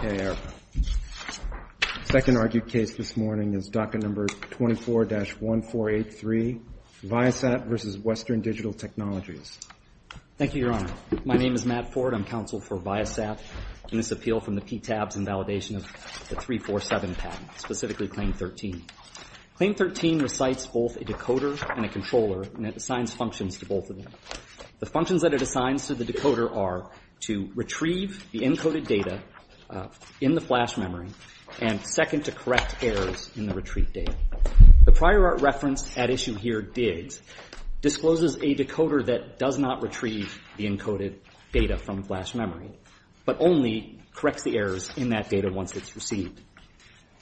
The second argued case this morning is docket number 24-1483, Viasat v. Western Digital Technologies. Thank you, Your Honor. My name is Matt Ford. I'm counsel for Viasat in this appeal from the PTABs in validation of the 347 patent, specifically Claim 13. Claim 13 recites both a decoder and a controller, and it assigns functions to both of them. The functions that it assigns to the decoder are to retrieve the encoded data in the flash memory and second to correct errors in the retreat data. The prior art reference at issue here, DIGS, discloses a decoder that does not retrieve the encoded data from flash memory but only corrects the errors in that data once it's received.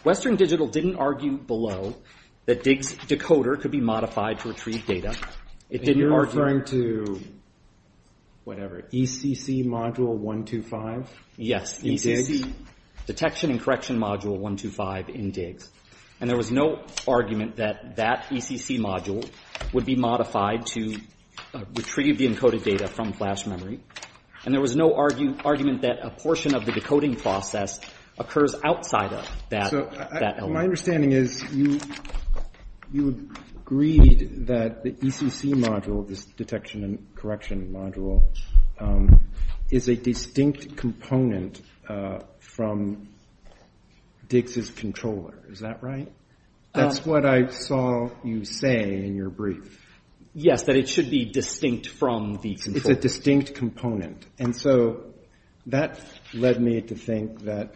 Western Digital didn't argue below that DIGS decoder could be modified to retrieve data. It didn't argue. And you're referring to whatever, ECC module 125? Yes, ECC. Detection and correction module 125 in DIGS. And there was no argument that that ECC module would be modified to retrieve the encoded data from flash memory. And there was no argument that a portion of the decoding process occurs outside of that element. So my understanding is you agreed that the ECC module, this detection and correction module, is a distinct component from DIGS's controller. Is that right? That's what I saw you say in your brief. Yes, that it should be distinct from the controller. It's a distinct component. And so that led me to think that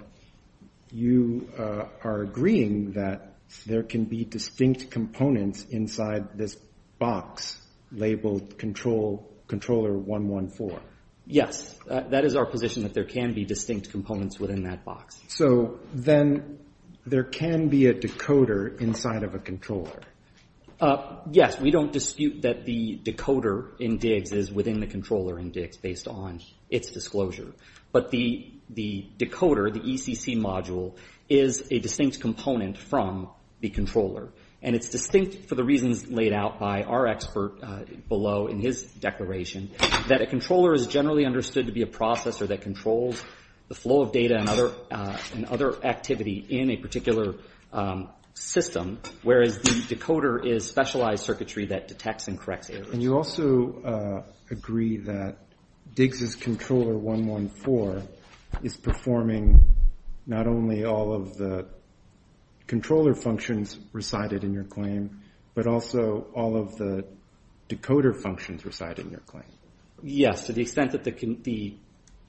you are agreeing that there can be distinct components inside this box labeled controller 114. Yes, that is our position, that there can be distinct components within that box. So then there can be a decoder inside of a controller. Yes, we don't dispute that the decoder in DIGS is within the controller in DIGS based on its disclosure. But the decoder, the ECC module, is a distinct component from the controller. And it's distinct for the reasons laid out by our expert below in his declaration, that a controller is generally understood to be a processor that controls the flow of data and other activity in a particular system, whereas the decoder is specialized circuitry that detects and corrects errors. And you also agree that DIGS's controller 114 is performing not only all of the controller functions recited in your claim, but also all of the decoder functions recited in your claim. Yes, to the extent that the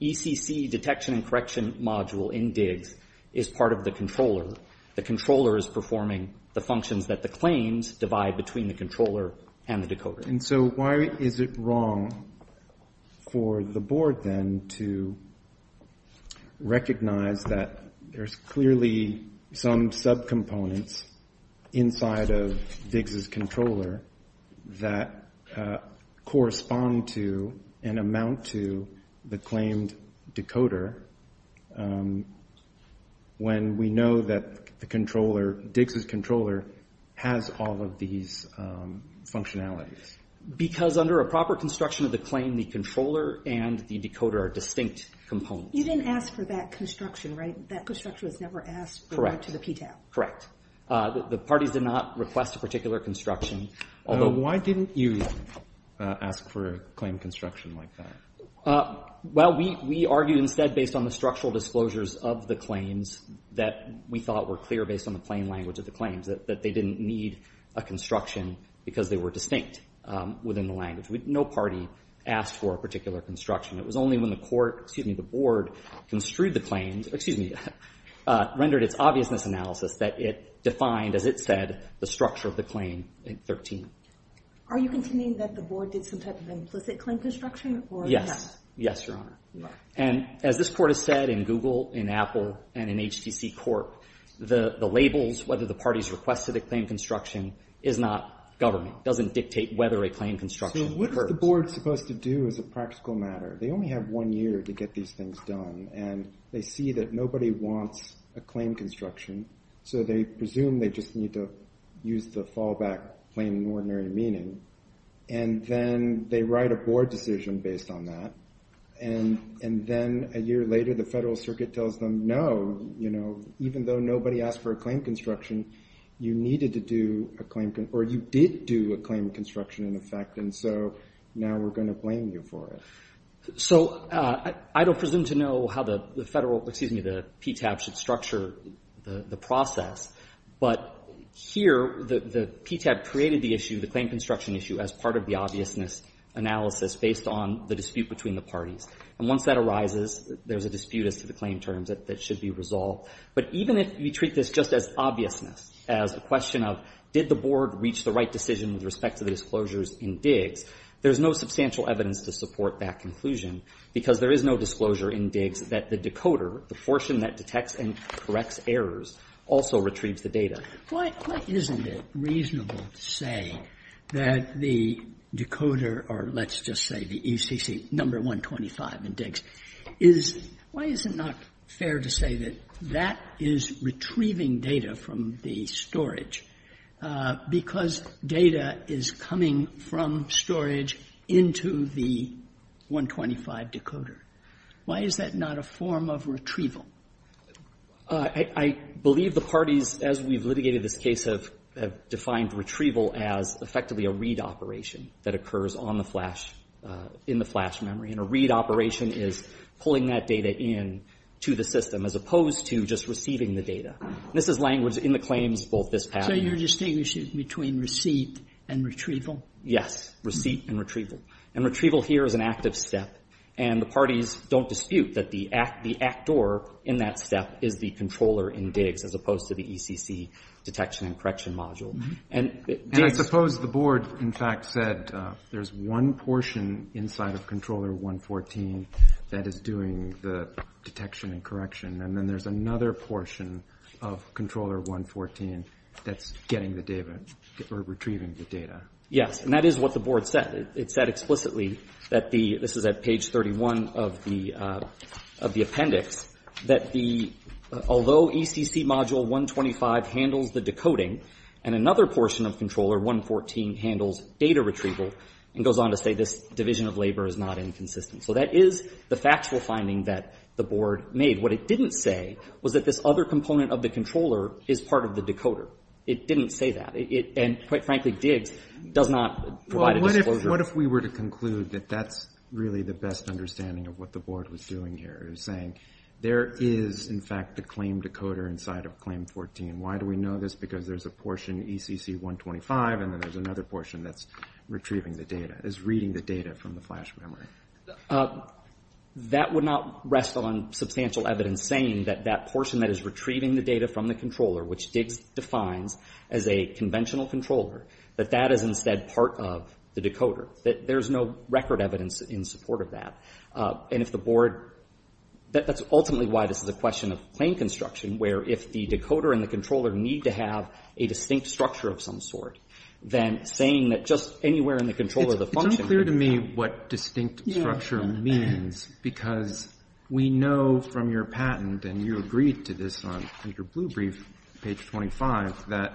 ECC detection and correction module in DIGS is part of the controller. The controller is performing the functions that the claims divide between the controller and the decoder. And so why is it wrong for the board then to recognize that there's clearly some subcomponents inside of DIGS's controller that correspond to and amount to the claimed decoder when we know that the controller, DIGS's controller, has all of these functionalities? Because under a proper construction of the claim, the controller and the decoder are distinct components. You didn't ask for that construction, right? That construction was never asked for to the PTAP. Correct. The parties did not request a particular construction. Why didn't you ask for a claim construction like that? Well, we argued instead based on the structural disclosures of the claims that we thought were clear based on the plain language of the claims, that they didn't need a construction because they were distinct within the language. No party asked for a particular construction. It was only when the board rendered its obviousness analysis that it defined, as it said, the structure of the claim in 13. Are you contending that the board did some type of implicit claim construction? Yes. Yes, Your Honor. And as this court has said in Google, in Apple, and in HTC Corp., the labels, whether the parties requested a claim construction, is not government. It doesn't dictate whether a claim construction occurs. What the board is supposed to do is a practical matter. They only have one year to get these things done. And they see that nobody wants a claim construction, so they presume they just need to use the fallback plain and ordinary meaning. And then they write a board decision based on that. And then a year later, the federal circuit tells them, no, you know, even though nobody asked for a claim construction, you needed to do a claim or you did do a claim construction in effect. And so now we're going to blame you for it. So I don't presume to know how the federal, excuse me, the PTAB should structure the process. But here, the PTAB created the issue, the claim construction issue, as part of the obviousness analysis based on the dispute between the parties. And once that arises, there's a dispute as to the claim terms that should be resolved. But even if we treat this just as obviousness, as a question of did the board reach the right decision with respect to the disclosures in Diggs, there's no substantial evidence to support that conclusion, because there is no disclosure in Diggs that the decoder, the fortune that detects and corrects errors, also retrieves the data. Sotomayor, why isn't it reasonable to say that the decoder, or let's just say the ECC, number 125 in Diggs, is why is it not fair to say that that is retrieving data from the storage, because data is coming from storage into the 125 decoder? Why is that not a form of retrieval? I believe the parties, as we've litigated this case, have defined retrieval as effectively a read operation that occurs on the flash, in the flash memory. And a read operation is pulling that data into the system, as opposed to just receiving the data. And this is language in the claims, both this patent and the other. So you're distinguishing between receipt and retrieval? Yes, receipt and retrieval. And retrieval here is an active step. And the parties don't dispute that the actor in that step is the controller in Diggs, as opposed to the ECC detection and correction module. And I suppose the board, in fact, said there's one portion inside of Controller 114 that is doing the detection and correction. And then there's another portion of Controller 114 that's getting the data, or retrieving the data. Yes, and that is what the board said. It said explicitly that the, this is at page 31 of the appendix, that the, although ECC module 125 handles the decoding, and another portion of Controller 114 handles data retrieval, and goes on to say this division of labor is not inconsistent. So that is the factual finding that the board made. What it didn't say was that this other component of the controller is part of the decoder. It didn't say that. And quite frankly, Diggs does not provide a disclosure. Well, what if we were to conclude that that's really the best understanding of what the board was doing here, is saying there is, in fact, the claim decoder inside of Claim 14. Why do we know this? Because there's a portion, ECC 125, and then there's another portion that's retrieving the data, is reading the data from the flash memory. That would not rest on substantial evidence saying that that portion that is retrieving the data from the controller, which Diggs defines as a conventional controller, that that is instead part of the decoder. There's no record evidence in support of that. And if the board, that's ultimately why this is a question of claim construction, where if the decoder and the controller need to have a distinct structure of some sort, then saying that just anywhere in the control of the function. It's unclear to me what distinct structure means, because we know from your patent, and you agreed to this on your blue brief, page 25, that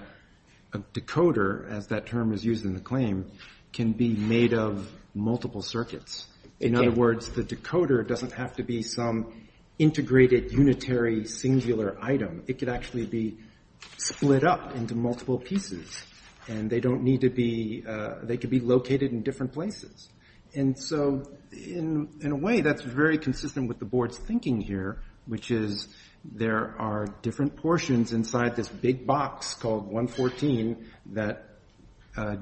a decoder, as that term is used in the claim, can be made of multiple circuits. In other words, the decoder doesn't have to be some integrated, unitary, singular item. It could actually be split up into multiple pieces. And they don't need to be, they could be located in different places. And so in a way, that's very consistent with the board's thinking here, which is there are different portions inside this big box called 114 that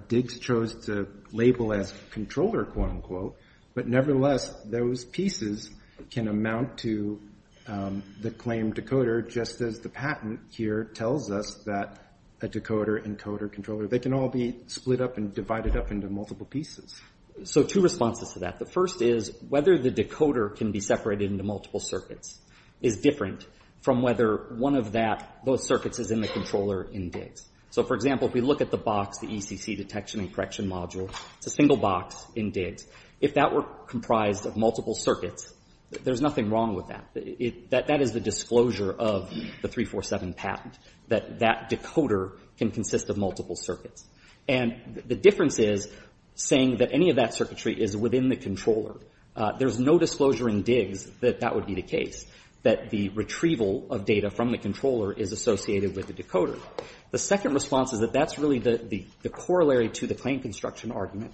Diggs chose to label as controller, quote unquote, but nevertheless, those pieces can amount to the claim decoder, just as the patent here tells us that a decoder, encoder, controller, they can all be split up and divided up into multiple pieces. So two responses to that. The first is whether the decoder can be separated into multiple circuits is different from whether one of that, both circuits is in the controller in Diggs. So, for example, if we look at the box, the ECC detection and correction module, it's a single box in Diggs. If that were comprised of multiple circuits, there's nothing wrong with that. That is the disclosure of the 347 patent, that that decoder can consist of multiple circuits. And the difference is saying that any of that circuitry is within the controller. There's no disclosure in Diggs that that would be the case, that the retrieval of data from the controller is associated with the decoder. The second response is that that's really the corollary to the claim construction argument.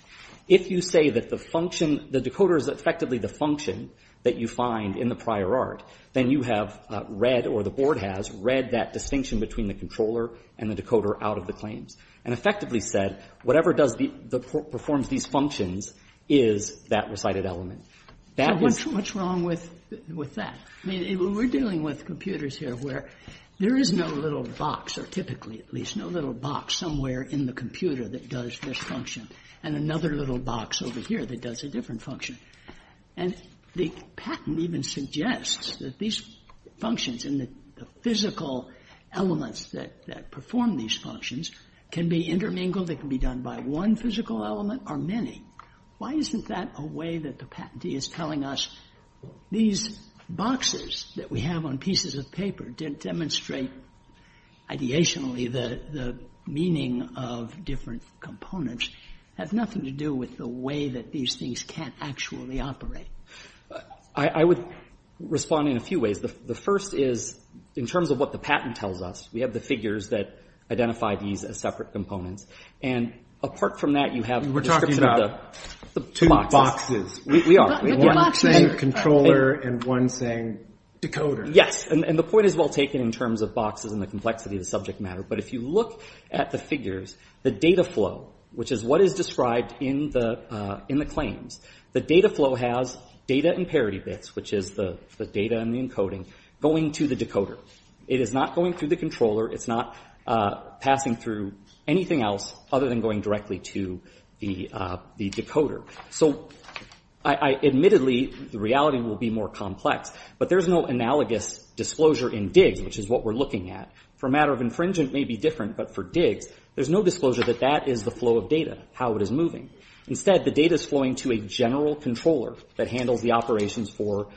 If you say that the function, the decoder is effectively the function that you find in the prior art, then you have read or the board has read that distinction between the controller and the decoder out of the claims, and effectively said, whatever does the — performs these functions is that recited element. That is— So what's wrong with that? I mean, we're dealing with computers here where there is no little box, or typically at least no little box somewhere in the computer that does this function. And another little box over here that does a different function. And the patent even suggests that these functions and the physical elements that perform these functions can be intermingled, they can be done by one physical element or many. Why isn't that a way that the patentee is telling us these boxes that we have on pieces of paper demonstrate ideationally the meaning of different components have nothing to do with the way that these things can actually operate? I would respond in a few ways. The first is in terms of what the patent tells us, we have the figures that identify these as separate components. And apart from that, you have the description of the two boxes. We're talking about two boxes. We are. One saying controller and one saying decoder. Yes, and the point is well taken in terms of boxes and the complexity of the subject matter. But if you look at the figures, the data flow, which is what is described in the claims, the data flow has data and parity bits, which is the data and the encoding, going to the decoder. It is not going through the controller. It's not passing through anything else other than going directly to the decoder. So admittedly, the reality will be more complex, but there's no analogous disclosure in DIGS, which is what we're looking at. For a matter of infringement, it may be different, but for DIGS, there's no disclosure that that is the flow of data, how it is moving. Instead, the data is flowing to a general controller that handles the operations for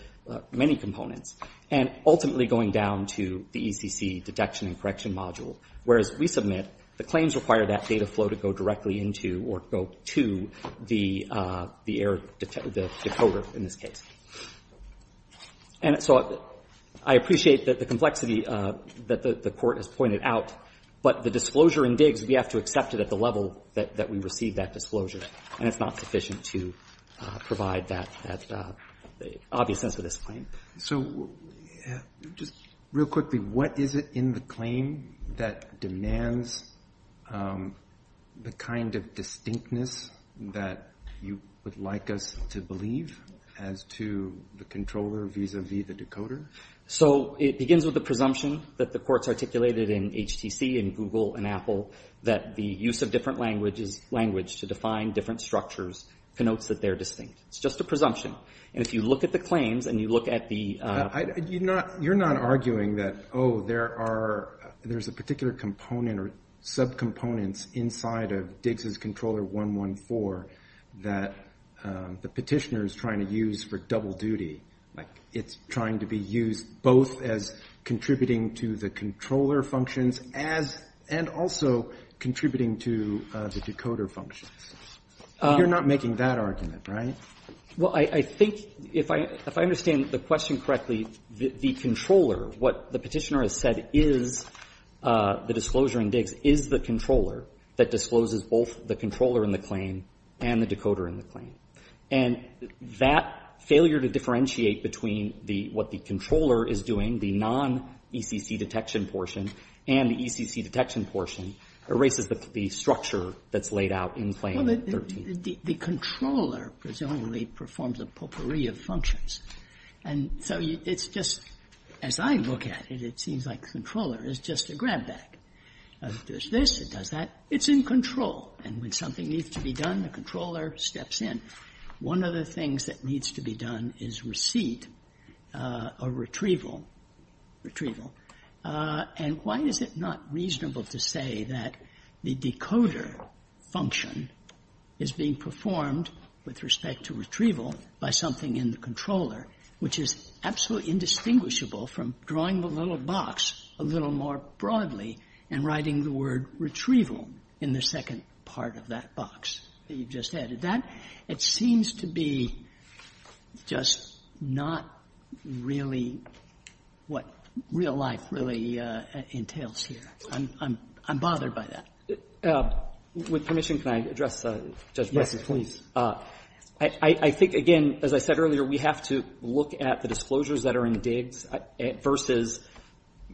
many components and ultimately going down to the ECC detection and correction module, whereas we submit the claims require that data flow to go directly into or go to the error, the decoder in this case. And so I appreciate that the complexity that the Court has pointed out, but the disclosure in DIGS, we have to accept it at the level that we receive that disclosure, and it's not sufficient to provide that obvious sense of this claim. So just real quickly, what is it in the claim that demands the kind of distinctness that you would like us to believe as to the controller vis-à-vis the decoder? So it begins with the presumption that the Court's articulated in HTC and Google and Apple that the use of different language to define different structures connotes that they're distinct. It's just a presumption. And if you look at the claims and you look at the- You're not arguing that, oh, there's a particular component or subcomponents inside of DIGS's Controller 114 that the petitioner is trying to use for double duty, like it's trying to be used both as contributing to the controller functions and also contributing to the decoder functions. You're not making that argument, right? Well, I think if I understand the question correctly, the controller, what the petitioner has said is the disclosure in DIGS is the controller that discloses both the controller in the claim and the decoder in the claim. And that failure to differentiate between what the controller is doing, the non-ECC detection portion, and the ECC detection portion erases the structure that's laid out in Claim 13. The controller presumably performs a potpourri of functions. And so it's just, as I look at it, it seems like the controller is just a grab bag. It does this, it does that. It's in control. And when something needs to be done, the controller steps in. One of the things that needs to be done is receipt or retrieval, retrieval. And why is it not reasonable to say that the decoder function is being performed with respect to retrieval by something in the controller, which is absolutely indistinguishable from drawing the little box a little more broadly and writing the word retrieval in the second part of that box that you just added? That, it seems to be just not really what real life really entails here. I'm bothered by that. With permission, can I address Judge Breyer's question? I think, again, as I said earlier, we have to look at the disclosures that are in the digs versus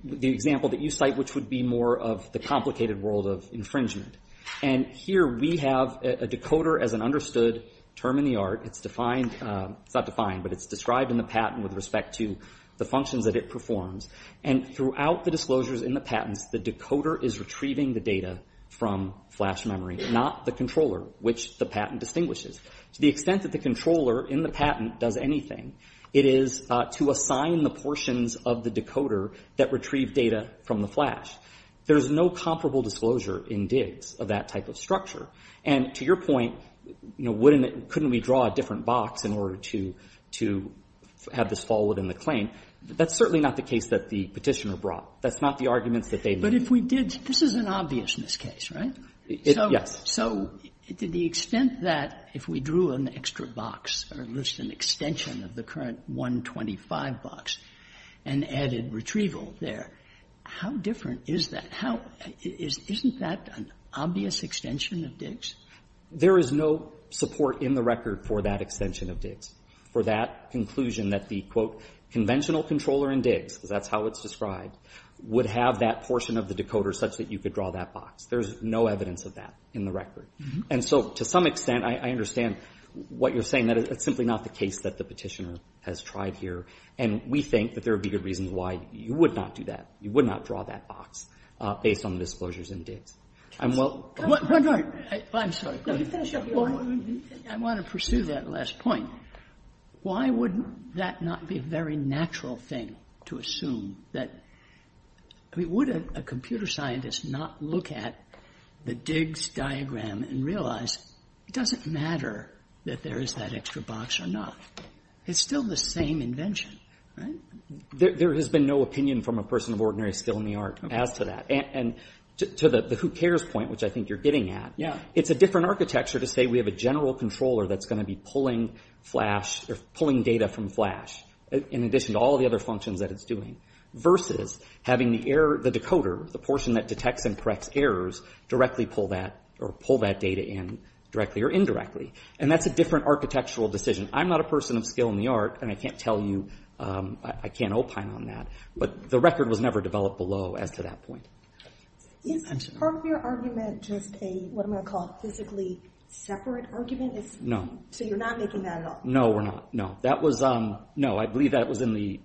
the example that you cite, which would be more of the complicated world of infringement. And here we have a decoder as an understood term in the art. It's defined, it's not defined, but it's described in the patent with respect to the functions that it performs. And throughout the disclosures in the patents, the decoder is retrieving the data from flash memory, not the controller, which the patent distinguishes. To the extent that the controller in the patent does anything, it is to assign the portions of the decoder that retrieve data from the flash. There is no comparable disclosure in digs of that type of structure. And to your point, you know, wouldn't it, couldn't we draw a different box in order to have this fall within the claim? That's certainly not the case that the Petitioner brought. That's not the arguments that they made. But if we did, this is an obviousness case, right? Yes. So to the extent that if we drew an extra box or at least an extension of the current box, an added retrieval there, how different is that? Isn't that an obvious extension of digs? There is no support in the record for that extension of digs, for that conclusion that the, quote, conventional controller in digs, because that's how it's described, would have that portion of the decoder such that you could draw that box. There's no evidence of that in the record. And so to some extent, I understand what you're saying, that it's simply not the case that the Petitioner has tried here. And we think that there would be good reasons why you would not do that. You would not draw that box based on the disclosures in digs. I'm well... I'm sorry. I want to pursue that last point. Why would that not be a very natural thing to assume that, I mean, would a computer scientist not look at the digs diagram and realize it doesn't matter that there is that extra box or not? It's still the same invention, right? There has been no opinion from a person of ordinary skill in the art as to that. And to the who cares point, which I think you're getting at, it's a different architecture to say we have a general controller that's going to be pulling data from Flash, in addition to all the other functions that it's doing, versus having the decoder, the portion that detects and corrects errors, directly pull that or pull that data in directly or indirectly. And that's a different architectural decision. I'm not a person of skill in the art, and I can't tell you, I can't opine on that. But the record was never developed below as to that point. Is part of your argument just a, what am I going to call it, physically separate argument? No. So you're not making that at all? No, we're not. No. That was, no, I believe that was in the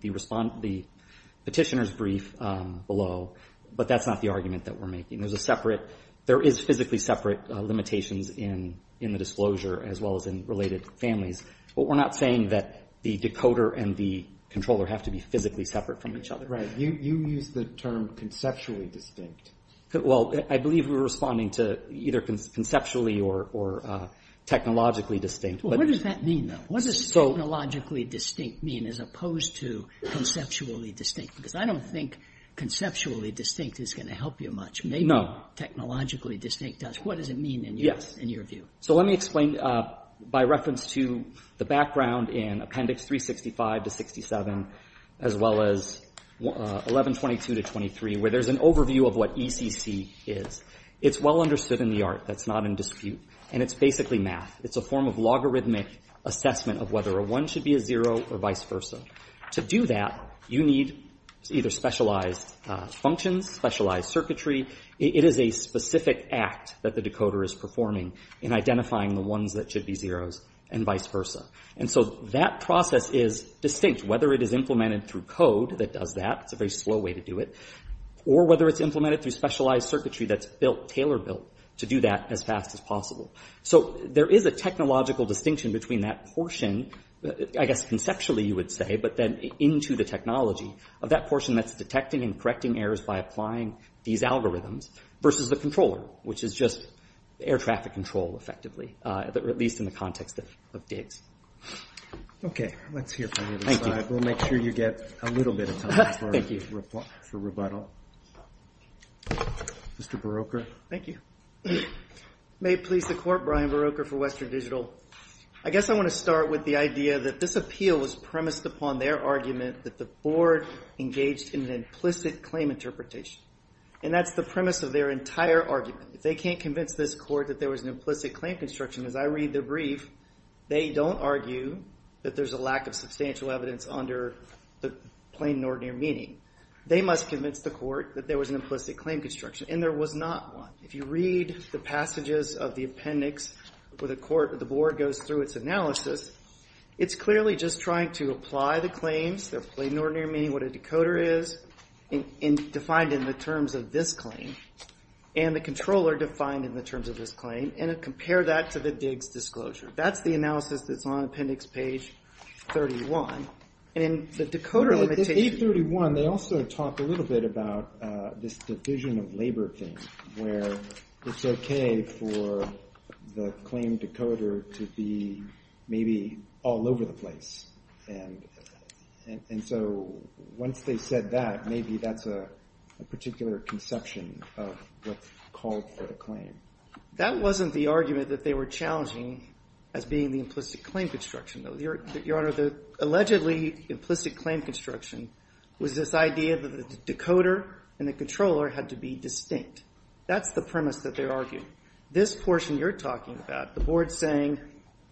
petitioner's brief below. But that's not the argument that we're making. There's a separate, there is physically separate limitations in the disclosure, as well as in related families. But we're not saying that the decoder and the controller have to be physically separate from each other. Right. You used the term conceptually distinct. Well, I believe we were responding to either conceptually or technologically distinct. What does that mean, though? What does technologically distinct mean as opposed to conceptually distinct? Because I don't think conceptually distinct is going to help you much. No. Technologically distinct does. What does it mean in your view? Yes. So let me explain by reference to the background in Appendix 365 to 67, as well as 1122 to 23, where there's an overview of what ECC is. It's well understood in the art. That's not in dispute. And it's basically math. It's a form of logarithmic assessment of whether a 1 should be a 0 or vice versa. To do that, you need either specialized functions, specialized circuitry. It is a specific act that the decoder is performing in identifying the ones that should be 0s and vice versa. And so that process is distinct, whether it is implemented through code that does that. It's a very slow way to do it. Or whether it's implemented through specialized circuitry that's built, tailor-built, to do that as fast as possible. So there is a technological distinction between that portion. I guess conceptually, you would say, but then into the technology of that portion that's detecting and correcting errors by applying these algorithms versus the controller, which is just air traffic control, effectively, at least in the context of DIGS. Okay. Let's hear from the other side. Thank you. We'll make sure you get a little bit of time for rebuttal. Mr. Barroker. Thank you. May it please the Court, Brian Barroker for Western Digital. I guess I want to start with the idea that this appeal was premised upon their argument that the Board engaged in an implicit claim interpretation. And that's the premise of their entire argument. If they can't convince this Court that there was an implicit claim construction, as I read the brief, they don't argue that there's a lack of substantial evidence under the plain and ordinary meaning. They must convince the Court that there was an implicit claim construction. And there was not one. If you read the passages of the appendix where the Board goes through its analysis, it's clearly just trying to apply the claims, their plain and ordinary meaning, what a decoder is, defined in the terms of this claim, and the controller defined in the terms of this claim, and compare that to the DIGS disclosure. That's the analysis that's on appendix page 31. And in the decoder limitation… In appendix 31, they also talk a little bit about this division of labor thing where it's okay for the claim decoder to be maybe all over the place. And so once they said that, maybe that's a particular conception of what's called for the claim. That wasn't the argument that they were challenging as being the implicit claim construction, though. Your Honor, the allegedly implicit claim construction was this idea that the decoder and the controller had to be distinct. That's the premise that they argued. This portion you're talking about, the Board saying,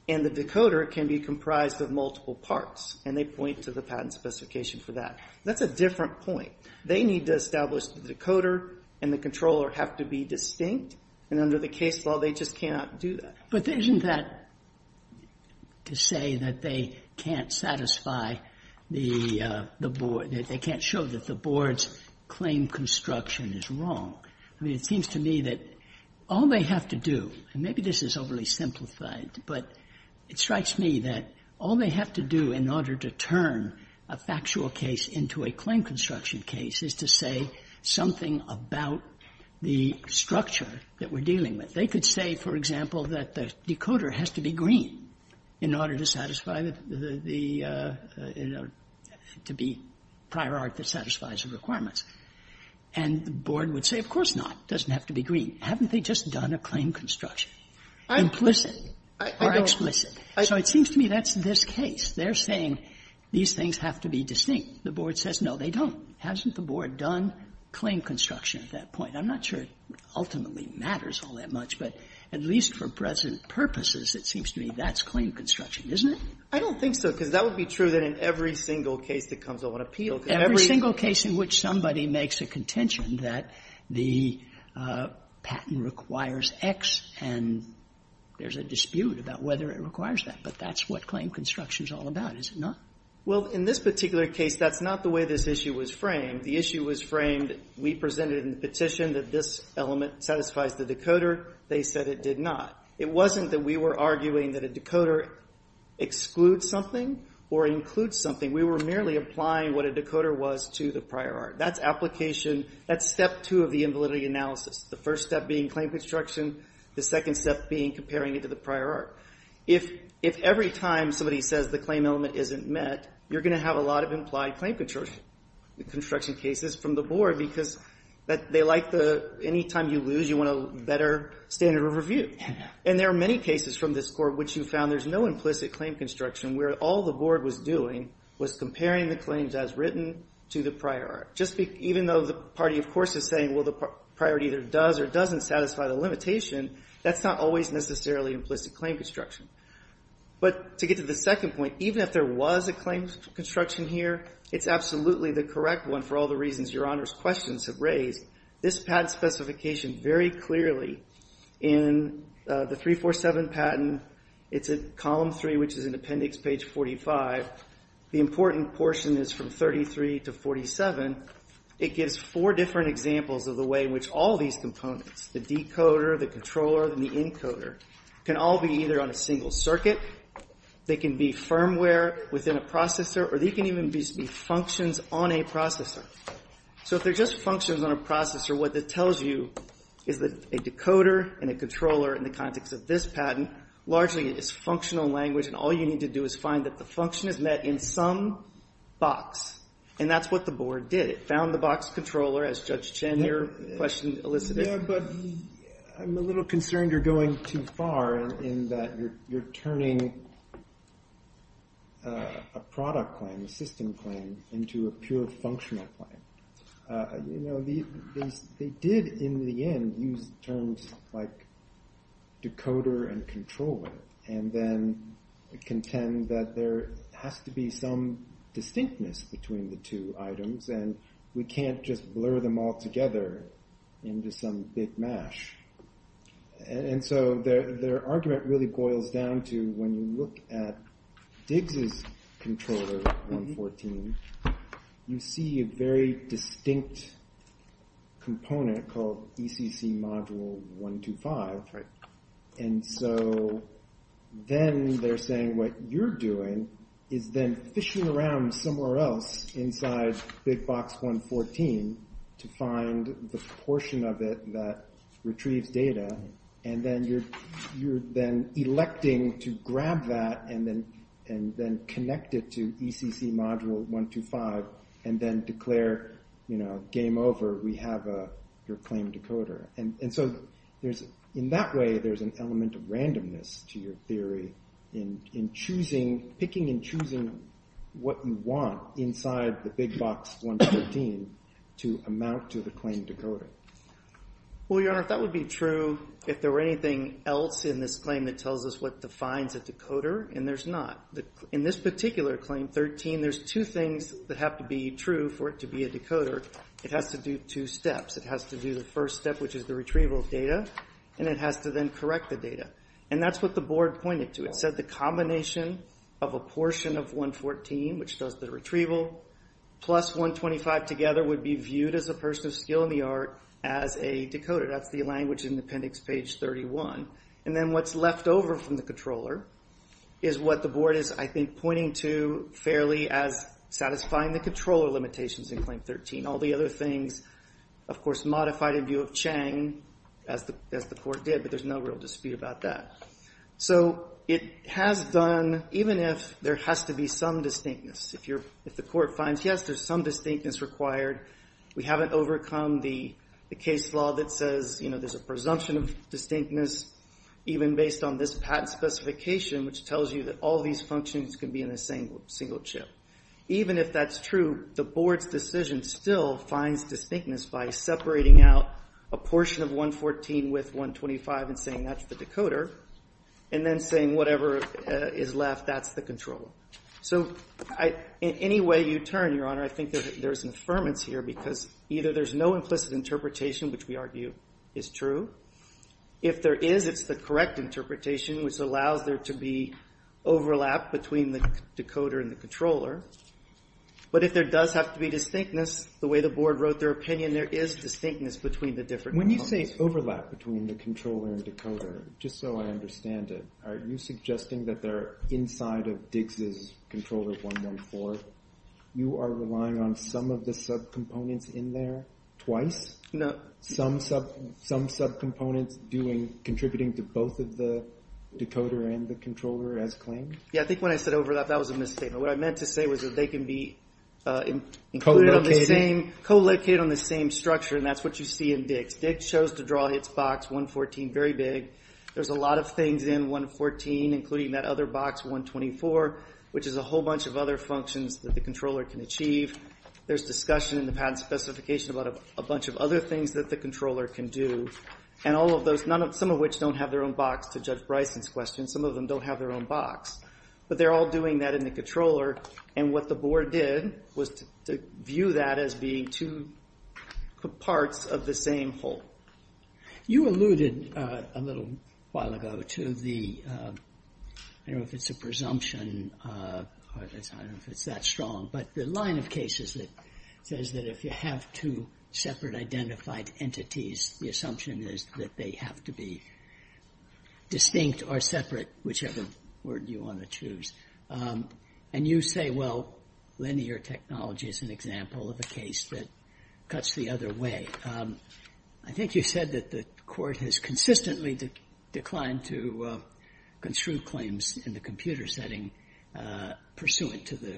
and the decoder can be comprised of multiple parts, and they point to the patent specification for that. That's a different point. They need to establish the decoder and the controller have to be distinct, and under the case law, they just cannot do that. But isn't that to say that they can't satisfy the Board, that they can't show that the Board's claim construction is wrong? I mean, it seems to me that all they have to do, and maybe this is overly simplified, but it strikes me that all they have to do in order to turn a factual case into a claim construction case is to say something about the structure that we're dealing with. They could say, for example, that the decoder has to be green in order to satisfy the the, you know, to be prior art that satisfies the requirements. And the Board would say, of course not. It doesn't have to be green. Haven't they just done a claim construction? Implicit or explicit. So it seems to me that's this case. They're saying these things have to be distinct. The Board says, no, they don't. Hasn't the Board done claim construction at that point? I'm not sure it ultimately matters all that much, but at least for present purposes, it seems to me that's claim construction, isn't it? I don't think so, because that would be true in every single case that comes on appeal. Every single case in which somebody makes a contention that the patent requires X, and there's a dispute about whether it requires that. But that's what claim construction is all about, is it not? Well, in this particular case, that's not the way this issue was framed. The issue was framed, we presented in the petition that this element satisfies the decoder. They said it did not. It wasn't that we were arguing that a decoder excludes something or includes something. We were merely applying what a decoder was to the prior art. That's application. That's step two of the invalidity analysis. The first step being claim construction. The second step being comparing it to the prior art. If every time somebody says the claim element isn't met, you're going to have a lot of implied claim construction cases from the board, because they like the anytime you lose, you want a better standard of review. And there are many cases from this court which you found there's no implicit claim construction, where all the board was doing was comparing the claims as written to the prior art. Even though the party, of course, is saying, well, the prior art either does or doesn't satisfy the limitation, that's not always necessarily implicit claim construction. But to get to the second point, even if there was a claim construction here, it's absolutely the correct one for all the reasons your Honor's questions have raised. This patent specification very clearly in the 347 patent, it's at column 3, which is in appendix page 45. The important portion is from 33 to 47. It gives four different examples of the way in which all these components, the decoder, the controller, and the encoder, can all be either on a single circuit, they can be firmware within a processor, or they can even be functions on a processor. So if they're just functions on a processor, what that tells you is that a decoder and a controller in the context of this patent largely is functional language, and all you need to do is find that the function is met in some box. And that's what the board did. It found the box controller, as Judge Chen, your question elicited. But I'm a little concerned you're going too far in that you're turning a product claim, a system claim, into a pure functional claim. You know, they did in the end use terms like decoder and controller, and then contend that there has to be some distinctness between the two items, and we can't just blur them all together into some big mash. And so their argument really boils down to when you look at Diggs' controller, 114, you see a very distinct component called ECC module 125. And so then they're saying what you're doing is then fishing around somewhere else inside big box 114 to find the portion of it that retrieves data, and then you're then electing to grab that and then connect it to ECC module 125 and then declare, you know, game over, we have your claim decoder. And so in that way there's an element of randomness to your theory in picking and choosing what you want inside the big box 113 to amount to the claim decoder. Well, Your Honor, if that would be true, if there were anything else in this claim that tells us what defines a decoder, and there's not. In this particular claim, 13, there's two things that have to be true for it to be a decoder. It has to do two steps. It has to do the first step, which is the retrieval of data, and it has to then correct the data. And that's what the board pointed to. It said the combination of a portion of 114, which does the retrieval, plus 125 together would be viewed as a person of skill in the art as a decoder. That's the language in Appendix Page 31. And then what's left over from the controller is what the board is, I think, pointing to fairly as satisfying the controller limitations in Claim 13. All the other things, of course, modified in view of Chang, as the court did, but there's no real dispute about that. So it has done, even if there has to be some distinctness, if the court finds, yes, there's some distinctness required, we haven't overcome the case law that says there's a presumption of distinctness, even based on this patent specification, which tells you that all these functions can be in a single chip. Even if that's true, the board's decision still finds distinctness by separating out a portion of 114 with 125 and saying that's the decoder and then saying whatever is left, that's the controller. So in any way you turn, Your Honor, I think there's an affirmance here because either there's no implicit interpretation, which we argue is true. If there is, it's the correct interpretation, which allows there to be overlap between the decoder and the controller. But if there does have to be distinctness, the way the board wrote their opinion, there is distinctness between the different components. When you say overlap between the controller and decoder, just so I understand it, are you suggesting that they're inside of Diggs' controller 114? You are relying on some of the subcomponents in there twice? No. Some subcomponents doing, contributing to both of the decoder and the controller as claimed? Yeah, I think when I said overlap, that was a misstatement. What I meant to say was that they can be included on the same structure, and that's what you see in Diggs. Diggs chose to draw its box 114 very big. There's a lot of things in 114, including that other box 124, which is a whole bunch of other functions that the controller can achieve. There's discussion in the patent specification about a bunch of other things that the controller can do, some of which don't have their own box, to Judge Bryson's question. Some of them don't have their own box. But they're all doing that in the controller, and what the board did was to view that as being two parts of the same whole. You alluded a little while ago to the, I don't know if it's a presumption, I don't know if it's that strong, but the line of cases that says that if you have two separate identified entities, the assumption is that they have to be distinct or separate, whichever word you want to choose. And you say, well, linear technology is an example of a case that cuts the other way. I think you said that the Court has consistently declined to construe claims in the computer setting pursuant to the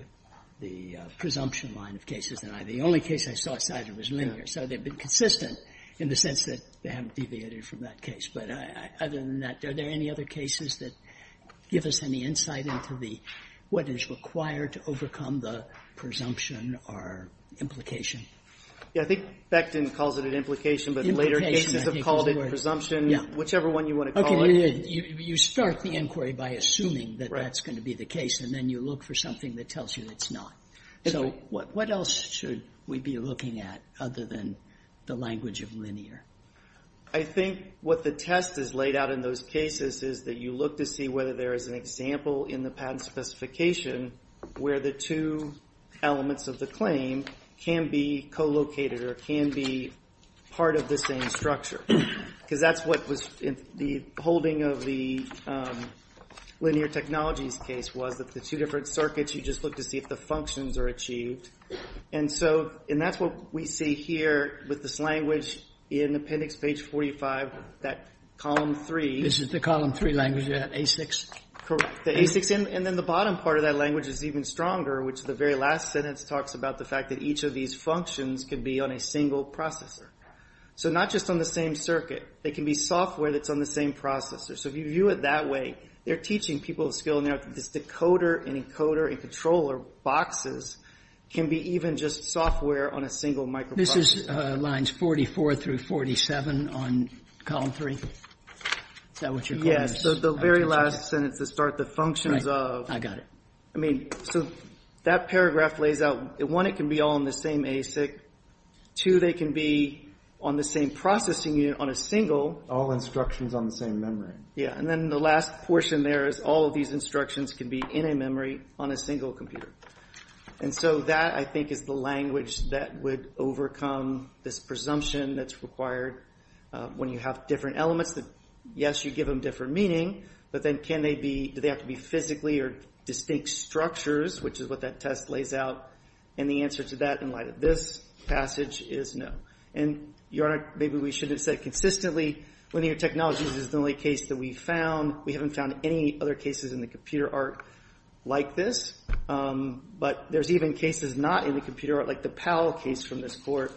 presumption line of cases, and the only case I saw cited was linear. So they've been consistent in the sense that they haven't deviated from that case. But other than that, are there any other cases that give us any insight into what is required to overcome the presumption or implication? Yeah, I think Becton calls it an implication, but later cases have called it presumption, whichever one you want to call it. Okay, you start the inquiry by assuming that that's going to be the case, and then you look for something that tells you it's not. So what else should we be looking at other than the language of linear? I think what the test has laid out in those cases is that you look to see whether there is an example in the patent specification where the two elements of the claim can be co-located or can be part of the same structure. Because that's what was in the holding of the linear technologies case was that the two different circuits, you just look to see if the functions are achieved. And that's what we see here with this language in appendix page 45, that column 3. This is the column 3 language, the A6? Correct, the A6. And then the bottom part of that language is even stronger, which the very last sentence talks about the fact that each of these functions can be on a single processor. So not just on the same circuit. They can be software that's on the same processor. So if you view it that way, they're teaching people a skill now that this decoder and encoder and controller boxes can be even just software on a single microprocessor. This is lines 44 through 47 on column 3? Is that what you're calling this? Yes, so the very last sentence to start, the functions of... Right, I got it. I mean, so that paragraph lays out, one, it can be on the same A6. Two, they can be on the same processing unit on a single... All instructions on the same memory. Yeah, and then the last portion there is all of these instructions can be in a memory on a single computer. And so that, I think, is the language that would overcome this presumption that's required when you have different elements that, yes, you give them different meaning, but then can they be, do they have to be physically or distinct structures, which is what that test lays out. And the answer to that in light of this passage is no. And, Your Honor, maybe we shouldn't have said consistently, linear technologies is the only case that we've found. We haven't found any other cases in the computer art like this. But there's even cases not in the computer art, like the PAL case from this court,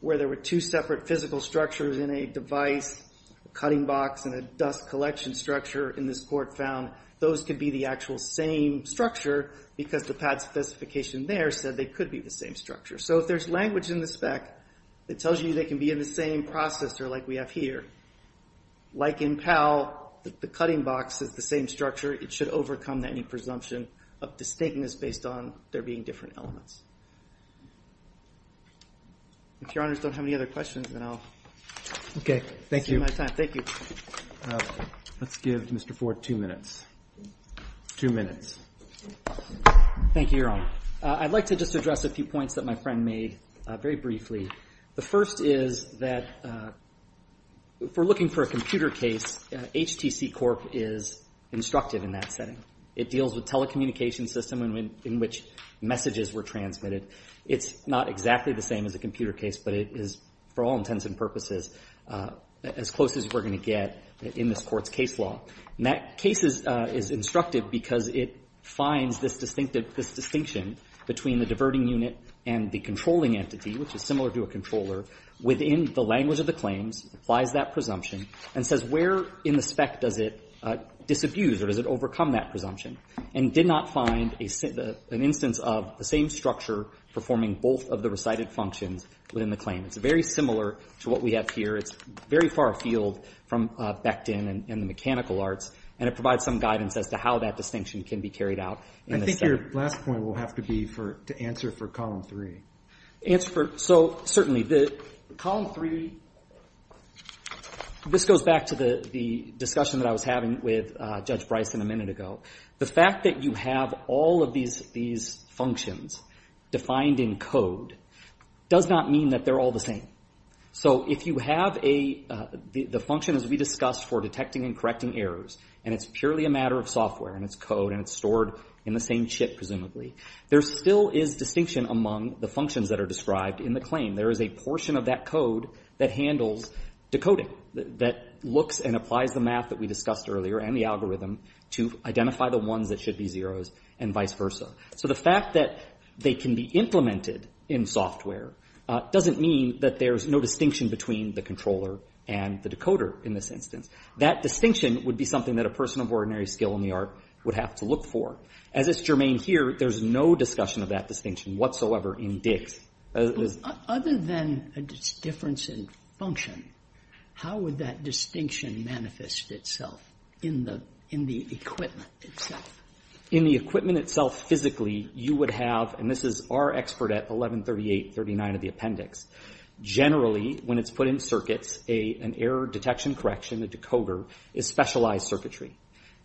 where there were two separate physical structures in a device, a cutting box and a dust collection structure in this court found. Those could be the actual same structure because the PADS specification there said they could be the same structure. So if there's language in the spec that tells you they can be in the same processor like we have here, like in PAL, the cutting box is the same structure. It should overcome any presumption of distinctness based on there being different elements. If Your Honors don't have any other questions, then I'll... Okay. Thank you. ...use my time. Thank you. Let's give Mr. Ford two minutes. Two minutes. Thank you, Your Honor. I'd like to just address a few points that my friend made very briefly. The first is that if we're looking for a computer case, HTC Corp. is instructive in that setting. It deals with telecommunication system in which messages were transmitted. It's not exactly the same as a computer case, but it is, for all intents and purposes, as close as we're going to get in this court's case law. And that case is instructive because it finds this distinction between the diverting unit and the controlling entity, which is similar to a controller, within the language of the claims, applies that presumption, and says where in the spec does it disabuse or does it overcome that presumption, and did not find an instance of the same structure performing both of the recited functions within the claim. It's very similar to what we have here. It's very far afield from Becton and the mechanical arts, and it provides some guidance as to how that distinction can be carried out. I think your last point will have to be to answer for Column 3. Answer for... So, certainly, Column 3, this goes back to the discussion that I was having with Judge Bryson a minute ago. The fact that you have all of these functions defined in code does not mean that they're all the same. So if you have a... The function, as we discussed, for detecting and correcting errors, and it's purely a matter of software, and it's code, and it's stored in the same chip, presumably, there still is distinction among the functions that are described in the claim. There is a portion of that code that handles decoding, that looks and applies the math that we discussed earlier and the algorithm to identify the ones that should be zeros and vice versa. So the fact that they can be implemented in software doesn't mean that there's no distinction between the controller and the decoder in this instance. That distinction would be something that a person of ordinary skill in the art would have to look for. As is germane here, there's no discussion of that distinction whatsoever in DIGS. Other than a difference in function, how would that distinction manifest itself in the equipment itself? In the equipment itself, physically, you would have, and this is our expert at 113839 of the appendix, generally, when it's put in circuits, an error detection correction, a decoder, is specialized circuitry.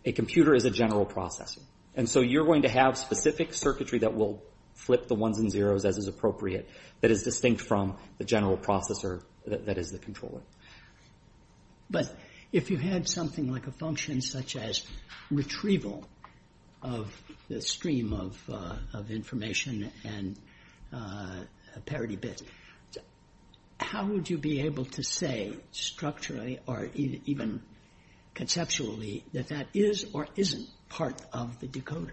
A computer is a general processor. And so you're going to have specific circuitry that will flip the ones and zeros as is appropriate that is distinct from the general processor that is the controller. But if you had something like a function such as retrieval of the stream of information and a parity bit, how would you be able to say structurally or even conceptually that that is or isn't part of the decoder?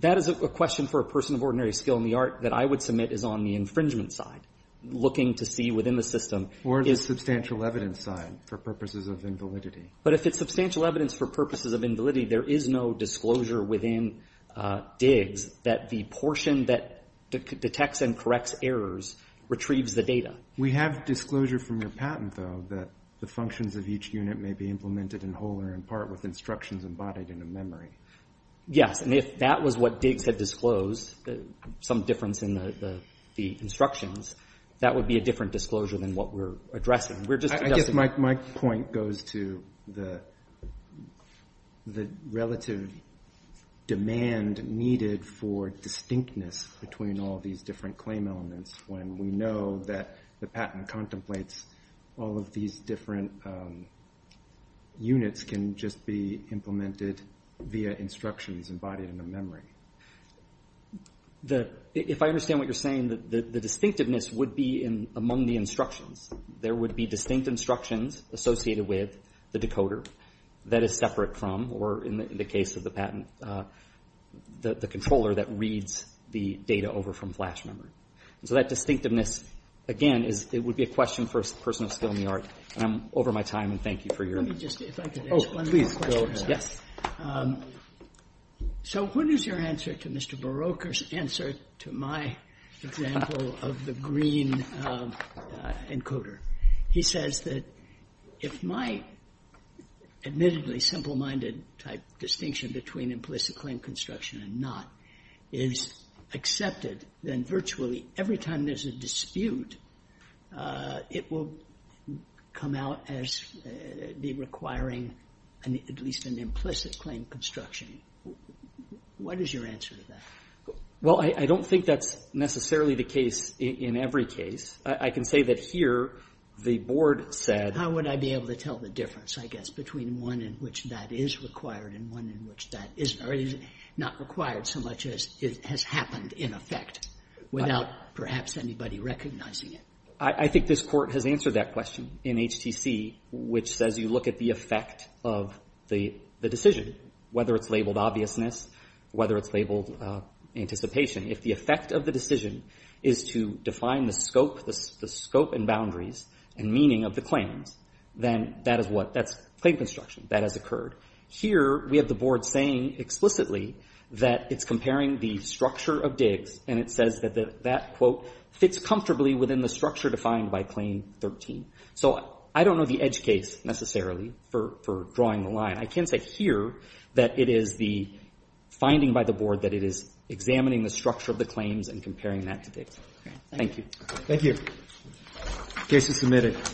That is a question for a person of ordinary skill in the art that I would submit is on the infringement side, looking to see within the system. Or the substantial evidence side for purposes of invalidity. But if it's substantial evidence for purposes of invalidity, there is no disclosure within DIGS that the portion that detects and corrects errors retrieves the data. We have disclosure from your patent, though, that the functions of each unit may be implemented in whole or in part with instructions embodied in a memory. Yes, and if that was what DIGS had disclosed, some difference in the instructions, that would be a different disclosure than what we're addressing. I guess my point goes to the relative demand needed for distinctness between all these different claim elements when we know that the patent contemplates all of these different units can just be implemented via instructions embodied in a memory. If I understand what you're saying, the distinctiveness would be among the instructions. There would be distinct instructions associated with the decoder that is separate from, or in the case of the patent, the controller that reads the data over from flash memory. So that distinctiveness, again, would be a question for a person of skill in the art. I'm over my time, and thank you for your... Let me just, if I could ask one more question. Oh, please, go ahead. Yes. So what is your answer to Mr. Beroker's answer to my example of the green encoder? He says that if my admittedly simple-minded type distinction between implicit claim construction and not is accepted, then virtually every time there's a dispute it will come out as requiring at least an implicit claim construction. What is your answer to that? Well, I don't think that's necessarily the case in every case. I can say that here the board said... How would I be able to tell the difference, I guess, between one in which that is required and one in which that is not required so much as it has happened in effect without perhaps anybody recognizing it? I think this court has answered that question in HTC, which says you look at the effect of the decision, whether it's labeled obviousness, whether it's labeled anticipation. If the effect of the decision is to define the scope, the scope and boundaries and meaning of the claims, then that is what... that's claim construction. That has occurred. Here we have the board saying explicitly that it's comparing the structure of digs and it says that that, quote, fits comfortably within the structure defined by claim 13. So I don't know the edge case necessarily for drawing the line. I can say here that it is the finding by the board that it is examining the structure of the claims and comparing that to digs. Thank you. Thank you. Case is submitted.